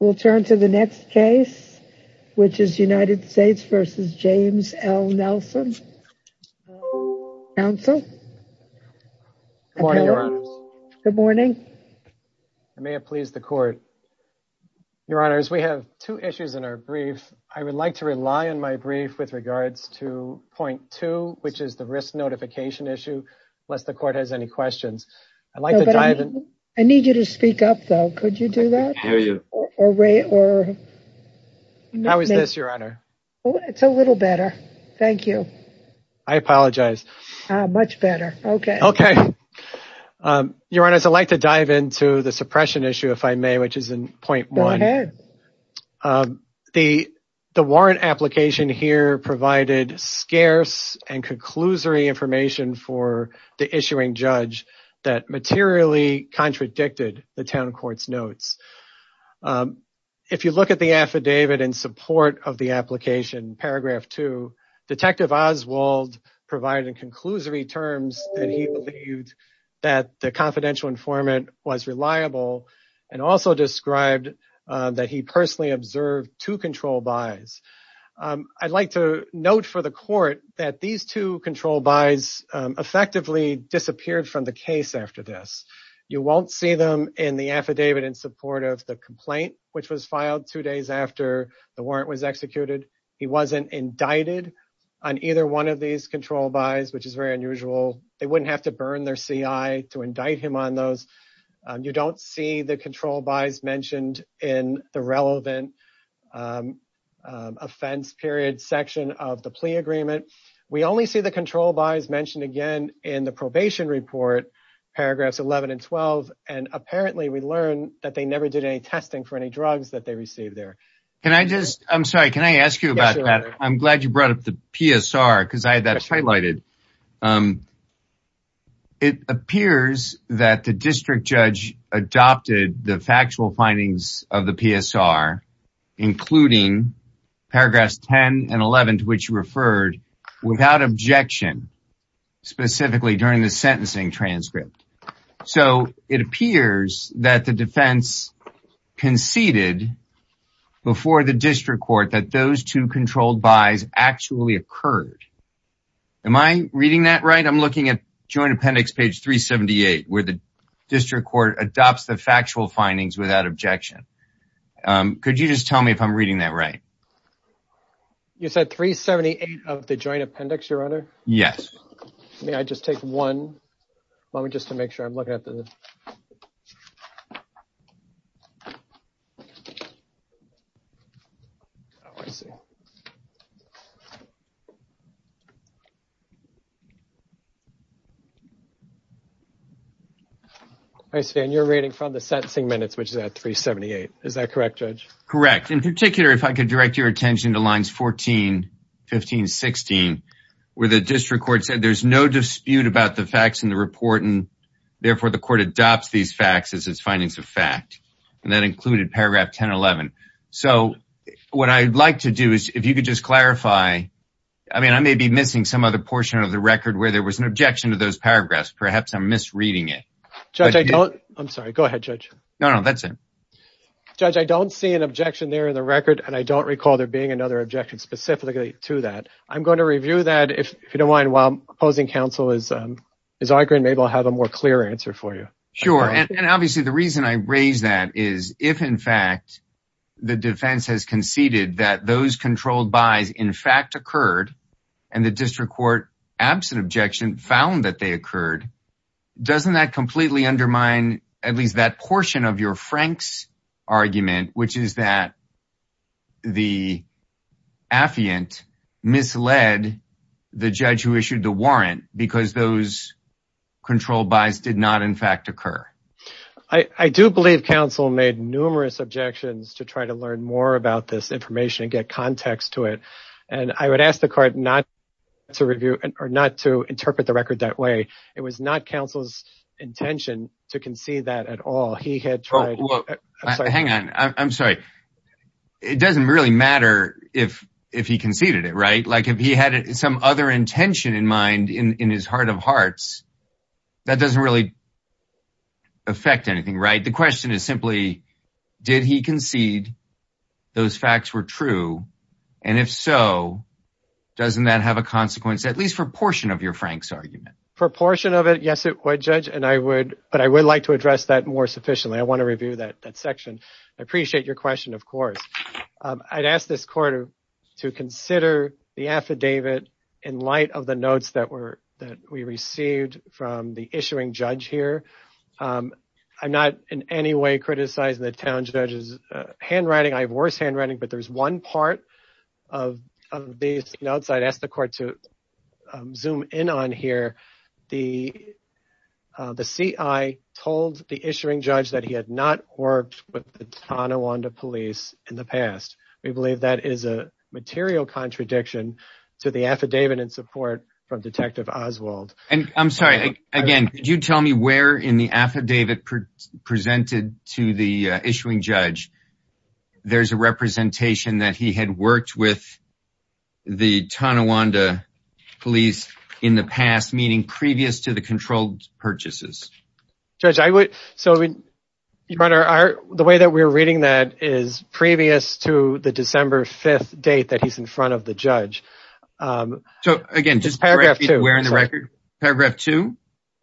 We'll turn to the next case, which is United States v. James L. Nelson. Counsel. Good morning. I may have pleased the court. Your Honors, we have two issues in our brief. I would like to rely on my brief with regards to point two, which is the risk notification issue. Unless the court has any questions, I'd like to I need you to speak up, though. Could you do that? How is this, Your Honor? It's a little better. Thank you. I apologize. Much better. OK. OK. Your Honors, I'd like to dive into the suppression issue, if I may, which is in point one. The the warrant application here provided scarce and conclusory information for the issuing judge that materially contradicted the town court's notes. If you look at the affidavit in support of the application, paragraph two, Detective Oswald provided a conclusory terms that he believed that the confidential informant was reliable and also described that he personally observed two control buys. I'd like to note for the court that these two control buys effectively disappeared from the case after this. You won't see them in the affidavit in support of the complaint, which was filed two days after the warrant was executed. He wasn't indicted on either one of these control buys, which is very unusual. They wouldn't have to burn their CI to indict him on those. You don't see the control buys mentioned in the relevant offense period section of the plea agreement. We only see the control buys mentioned again in the probation report, paragraphs 11 and 12. And apparently we learned that they never did any testing for any drugs that they received there. Can I just I'm sorry. Can I ask you about that? I'm glad you brought up the PSR because I had that highlighted. It appears that the district judge adopted the factual findings of the PSR, including paragraphs 10 and 11, which referred without objection, specifically during the sentencing transcript. So it appears that the defense conceded before the district court that those two controlled buys actually occurred. Am I reading that right? I'm looking at joint appendix, page 378, where the district court adopts the factual findings without objection. Could you just tell me if I'm reading that right? You said 378 of the joint appendix, your honor? Yes. May I just take one moment just to make sure I'm looking at the. I stand your reading from the sentencing minutes, which is at 378, is that correct? Correct. In particular, if I could direct your attention to lines 14, 15, 16, where the district court said there's no dispute about the facts in the report. And therefore, the court adopts these facts as its findings of fact, and that included paragraph 10, 11. So what I'd like to do is if you could just clarify, I mean, I may be missing some other portion of the record where there was an objection to those paragraphs. Perhaps I'm misreading it. I'm sorry. Go ahead, Judge. No, no, that's it. Judge, I don't see an objection there in the record, and I don't recall there being another objection specifically to that. I'm going to review that if you don't mind while opposing counsel is arguing. Maybe I'll have a more clear answer for you. Sure. And obviously, the reason I raise that is if, in fact, the defense has conceded that those controlled buys, in fact, occurred and the district court absent objection found that they occurred. Doesn't that completely undermine at least that portion of your Frank's argument, which is that the affiant misled the judge who issued the warrant because those control buys did not, in fact, occur? I do believe counsel made numerous objections to try to learn more about this information and get context to it. And I would ask the court not to review or not to interpret the record that way. It was not counsel's intention to concede that at all. He had tried. Hang on. I'm sorry. It doesn't really matter if he conceded it. Right. Like if he had some other intention in mind in his heart of hearts, that doesn't really affect anything. Right. The question is simply, did he concede those facts were true? And if so, doesn't that have a consequence, at least for a portion of your Frank's argument? For a portion of it, yes, it would, Judge. And I would but I would like to address that more sufficiently. I want to review that that section. I appreciate your question, of course. I'd ask this court to consider the affidavit in light of the notes that were that we received from the issuing judge here. I'm not in any way criticizing the town judge's handwriting. I have worse handwriting. But there's one part of these notes. I'd ask the court to zoom in on here. The the C.I. told the issuing judge that he had not worked with the Tonawanda police in the past. We believe that is a material contradiction to the affidavit in support from Detective Oswald. And I'm sorry. Again, could you tell me where in the affidavit presented to the issuing judge? There's a representation that he had worked with the Tonawanda police in the past, meaning previous to the controlled purchases. Judge, I would. So the way that we're reading that is previous to the December 5th date that he's in front of the judge. So, again, just paragraph two. Where in the record? Paragraph two.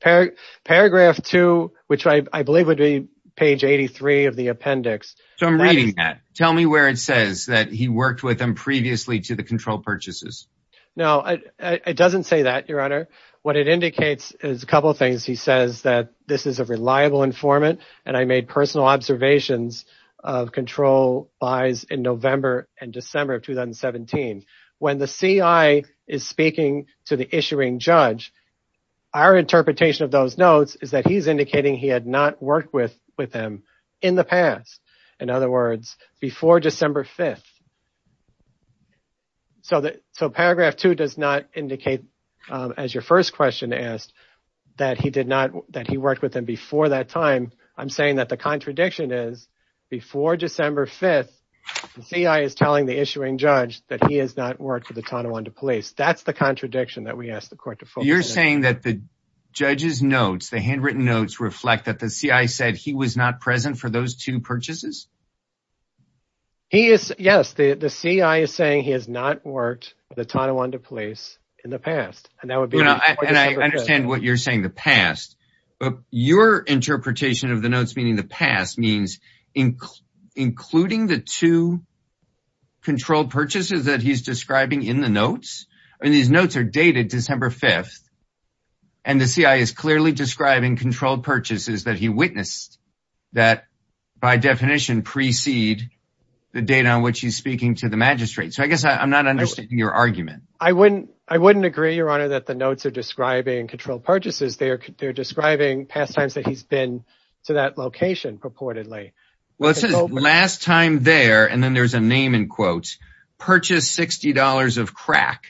Paragraph two, which I believe would be page 83 of the appendix. So I'm reading that. Tell me where it says that he worked with them previously to the control purchases. No, it doesn't say that, Your Honor. What it indicates is a couple of things. He says that this is a reliable informant. And I made personal observations of control buys in November and December of 2017. When the CI is speaking to the issuing judge, our interpretation of those notes is that he's indicating he had not worked with them in the past. In other words, before December 5th. So paragraph two does not indicate, as your first question asked, that he worked with them before that time. I'm saying that the contradiction is before December 5th, the CI is telling the issuing judge that he has not worked for the Tonawanda Police. That's the contradiction that we asked the court to focus on. You're saying that the judge's notes, the handwritten notes, reflect that the CI said he was not present for those two purchases? He is, yes. The CI is saying he has not worked with the Tonawanda Police in the past. And that would be before December 5th. And I understand what you're saying, the past. Your interpretation of the notes meaning the past means including the two controlled purchases that he's describing in the notes. And these notes are dated December 5th. And the CI is clearly describing controlled purchases that he witnessed that by definition precede the date on which he's speaking to the magistrate. So I guess I'm not understanding your argument. I wouldn't agree, Your Honor, that the notes are describing controlled purchases. They're describing past times that he's been to that location purportedly. Well, it says, last time there, and then there's a name in quotes, purchased $60 of crack.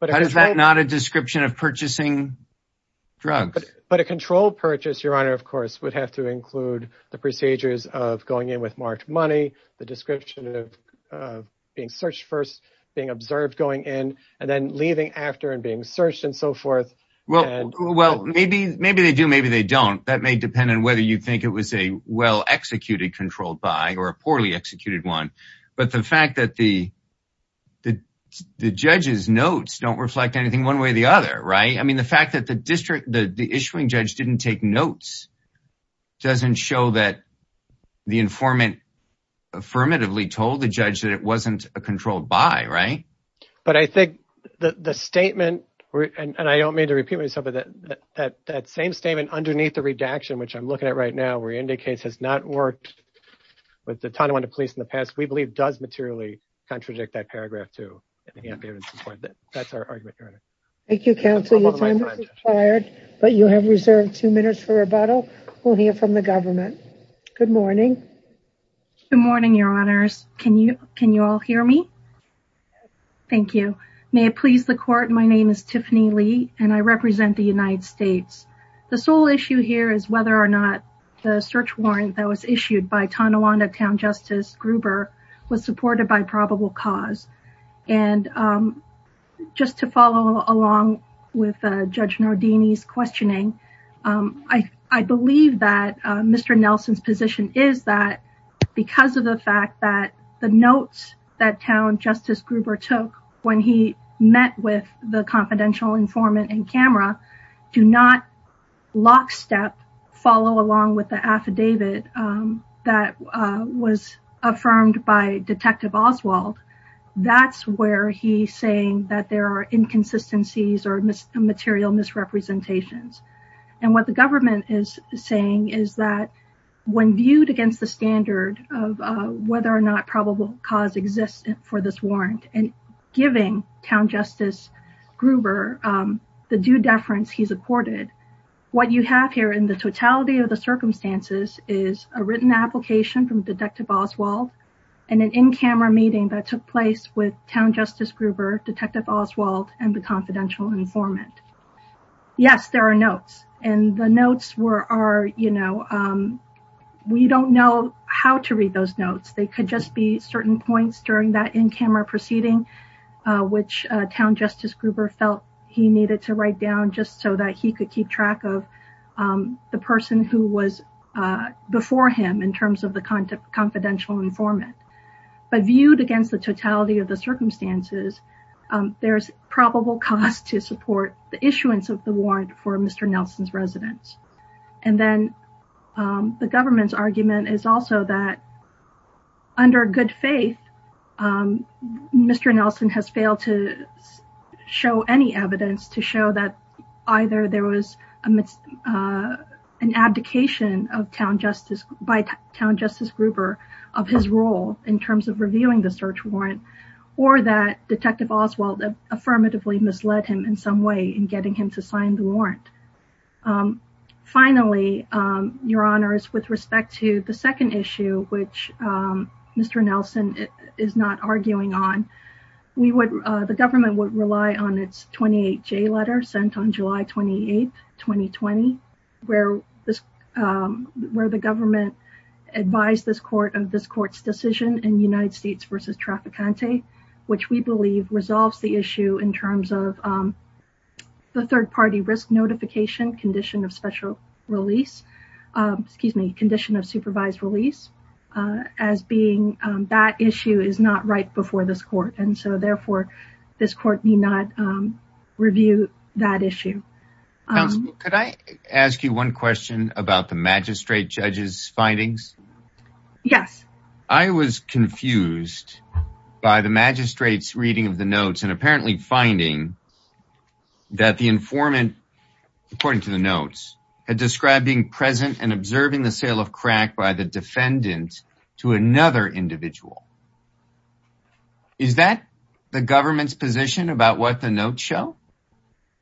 How is that not a description of purchasing drugs? But a controlled purchase, Your Honor, of course, would have to include the procedures of going in with marked money, the description of being searched first, being observed going in, and then leaving after and being searched and so forth. Well, maybe they do, maybe they don't. That may depend on whether you think it was a well-executed controlled buy or a poorly executed one. But the fact that the judge's notes don't reflect anything one way or the other, right? I mean, the fact that the issuing judge didn't take notes doesn't show that the informant affirmatively told the judge that it wasn't a controlled buy, right? But I think the statement, and I don't mean to repeat myself, but that same statement underneath the redaction, which I'm looking at right now, where he indicates has not worked with the Tonawanda Police in the past, we believe does materially contradict that paragraph, too. That's our argument, Your Honor. Thank you, counsel. Your time has expired, but you have reserved two minutes for rebuttal. We'll hear from the government. Good morning. Good morning, Your Honors. Can you all hear me? Thank you. May it please the court. My name is Tiffany Lee, and I represent the United States. The sole issue here is whether or not the search warrant that was issued by Tonawanda Town Justice Gruber was supported by probable cause. And just to follow along with Judge Nardini's questioning, I believe that Mr. Nelson's position is that because of the fact that the notes that Town Justice Gruber took when he met with the confidential informant and camera do not lockstep follow along with the affidavit that was affirmed by Detective Oswald, that's where he's saying that there are inconsistencies or material misrepresentations. And what the government is saying is that when viewed against the standard of whether or not probable cause exists for this warrant and giving Town Justice Gruber the due deference he's accorded, what you have here in the totality of the circumstances is a written application from Detective Oswald and an in-camera meeting that took place with Town Justice Gruber, Detective Oswald, and the confidential informant. Yes, there are notes. And the notes were, you know, we don't know how to read those notes. They could just be certain points during that in-camera proceeding which Town Justice Gruber felt he needed to write down just so that he could keep track of the person who was before him in terms of the confidential informant. But viewed against the totality of the circumstances, there's probable cause to support the issuance of the warrant for Mr. Nelson's residence. And then the government's argument is also that under good faith, Mr. Nelson has failed to show any evidence to show that either there was an abdication by Town Justice Gruber of his role in terms of reviewing the search warrant or that Detective Oswald affirmatively misled him in some way in getting him to sign the warrant. Finally, Your Honors, with respect to the second issue, which Mr. Nelson is not arguing on, the government would rely on its 28-J letter sent on July 28, 2020, where the government advised this court of this court's decision in United States v. Traficante, which we believe resolves the issue in terms of the third-party risk notification condition of special release, excuse me, condition of supervised release, as being that issue is not right before this court and so therefore this court need not review that issue. Counsel, could I ask you one question about the magistrate judge's findings? Yes. I was confused by the magistrate's reading of the notes and apparently finding that the informant, according to the notes, had described being present and observing the sale of crack by the defendant to another individual. Is that the government's position about what the notes show? Yes,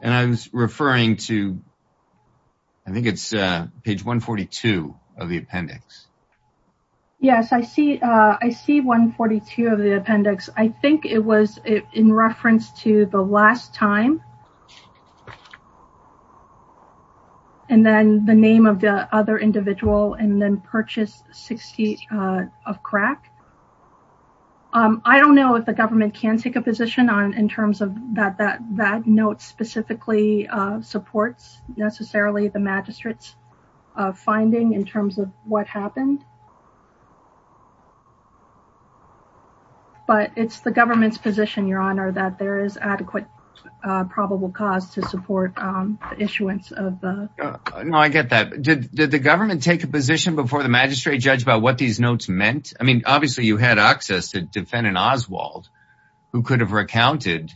and I was referring to, I think it's page 142 of the appendix. Yes, I see 142 of the appendix. I think it was in reference to the last time and then the name of the other individual and then purchased 60 of crack. I don't know if government can take a position on in terms of that that that note specifically supports necessarily the magistrate's finding in terms of what happened, but it's the government's position, your honor, that there is adequate probable cause to support the issuance of the... No, I get that. Did the government take a position before the magistrate judge about what these notes meant? I mean, obviously you had access to defendant Oswald, who could have recounted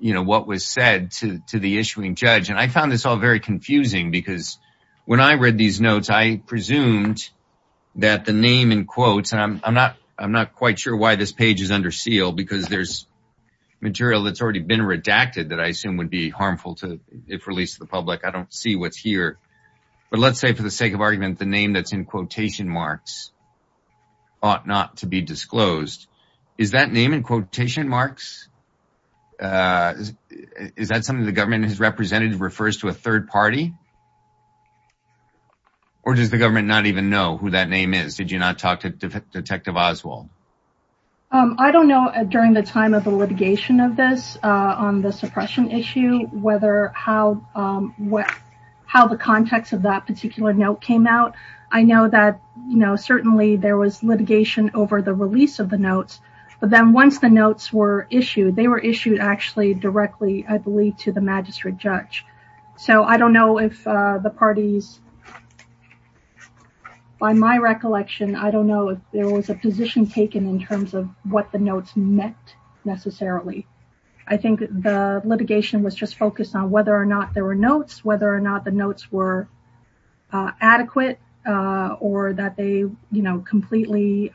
what was said to the issuing judge. I found this all very confusing because when I read these notes, I presumed that the name in quotes, and I'm not quite sure why this page is under seal because there's material that's already been redacted that I assume would be harmful if released to the public. I don't see what's here, but let's say for the sake of thought not to be disclosed. Is that name in quotation marks? Is that something the government has represented refers to a third party? Or does the government not even know who that name is? Did you not talk to Detective Oswald? I don't know during the time of the litigation of this on the suppression issue whether how what how the context of that particular note came out. I know that, you know, certainly there was litigation over the release of the notes, but then once the notes were issued, they were issued actually directly, I believe, to the magistrate judge. So I don't know if the parties, by my recollection, I don't know if there was a position taken in terms of what the notes meant necessarily. I think the litigation was just focused on whether or not there were notes, whether or not the notes were adequate, or that they, you know, completely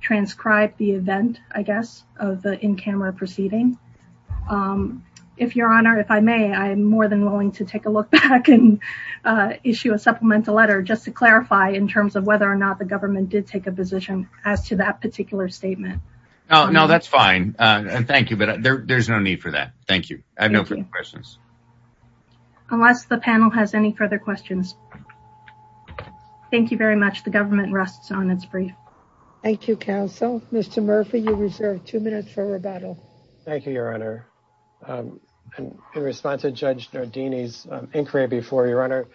transcribed the event, I guess, of the in-camera proceeding. If Your Honor, if I may, I'm more than willing to take a look back and issue a supplemental letter just to clarify in terms of whether or not the government did take a position as to that particular statement. No, that's fine. Thank you, but there's no need for that. Thank you. I have no further questions. Unless the panel has any further questions. Thank you very much. The government rests on its brief. Thank you, counsel. Mr. Murphy, you reserve two minutes for rebuttal. Thank you, Your Honor. In response to Judge Nardini's inquiry before you, Your Honor,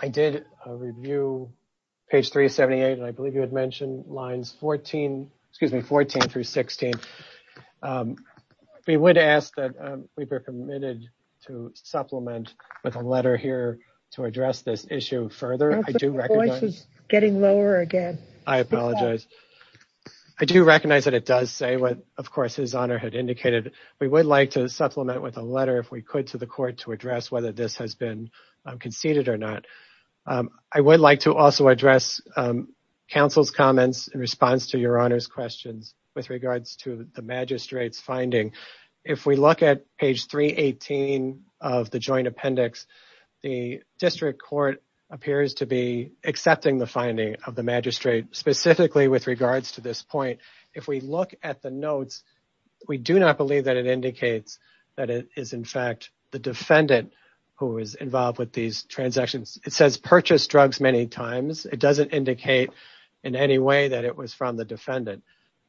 I did a review, page 378, and I believe you had mentioned lines 14, excuse me, 14 through 16. We would ask that we be permitted to supplement with a letter here to address this issue further. I do recognize... Your voice is getting lower again. I apologize. I do recognize that it does say what, of course, His Honor had indicated. We would like to supplement with a letter, if we could, to the court to address whether this has been conceded or not. I would like to also address counsel's comments in response to Your Honor's questions with regards to the magistrate's finding. If we look at page 318 of the joint appendix, the district court appears to be accepting the finding of the magistrate specifically with to this point. If we look at the notes, we do not believe that it indicates that it is, in fact, the defendant who is involved with these transactions. It says purchased drugs many times. It doesn't indicate in any way that it was from the defendant.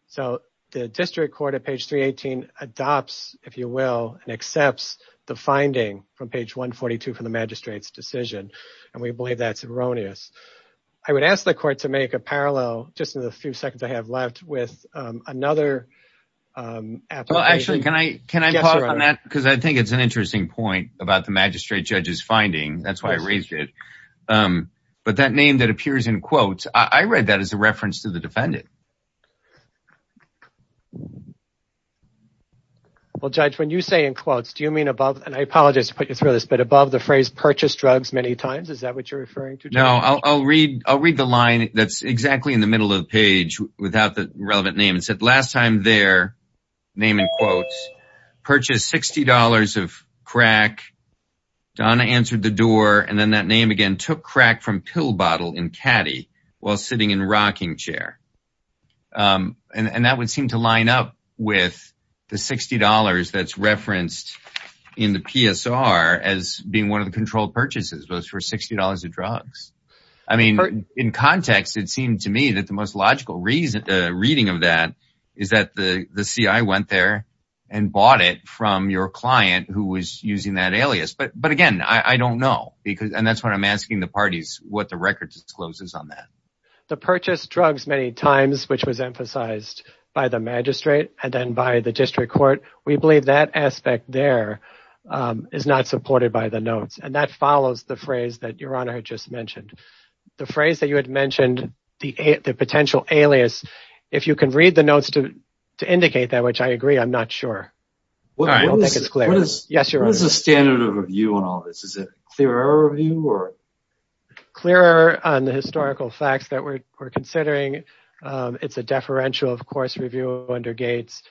So the district court at page 318 adopts, if you will, and accepts the finding from page 142 from the magistrate's decision, and we believe that's erroneous. I would ask the court to make a parallel, just in the few seconds I have left, with another application. Well, actually, can I can I talk on that? Because I think it's an interesting point about the magistrate judge's finding. That's why I raised it. But that name that appears in quotes, I read that as a reference to the defendant. Well, Judge, when you say in quotes, do you mean above? And I apologize to put you through this, but above the phrase purchased drugs many times, is that what you're referring to? No, I'll read. I'll read the line that's exactly in the middle of the page without the relevant name. It said last time their name in quotes purchased $60 of crack. Donna answered the door and then that name again took crack from pill bottle in caddy while sitting in rocking chair. And that would seem to line up with the $60 that's referenced in the PSR as being one of the controlled purchases for $60 of drugs. I mean, in context, it seemed to me that the most logical reason reading of that is that the CI went there and bought it from your client who was using that alias. But again, I don't know because and that's what I'm asking the parties what the record discloses on that. The purchase drugs many times, which was emphasized by the magistrate and then by the district court, we believe that aspect there is not supported by the notes. And that follows the phrase that your honor had just mentioned. The phrase that you had mentioned, the potential alias, if you can read the notes to indicate that, which I agree, I'm not sure. What is the standard of review on all this? Is it clearer review or? Clearer on the historical facts that we're considering. It's a deferential, of course, under Gates.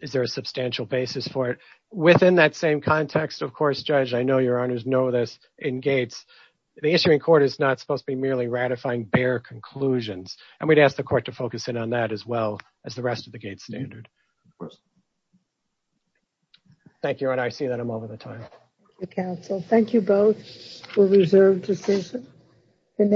Is there a substantial basis for it within that same context? Of course, judge, I know your honors know this in Gates. The issuing court is not supposed to be merely ratifying bare conclusions. And we'd ask the court to focus in on that as well as the rest of the Gates standard. Thank you. And I see that I'm over the time. Thank you both for reserved decision.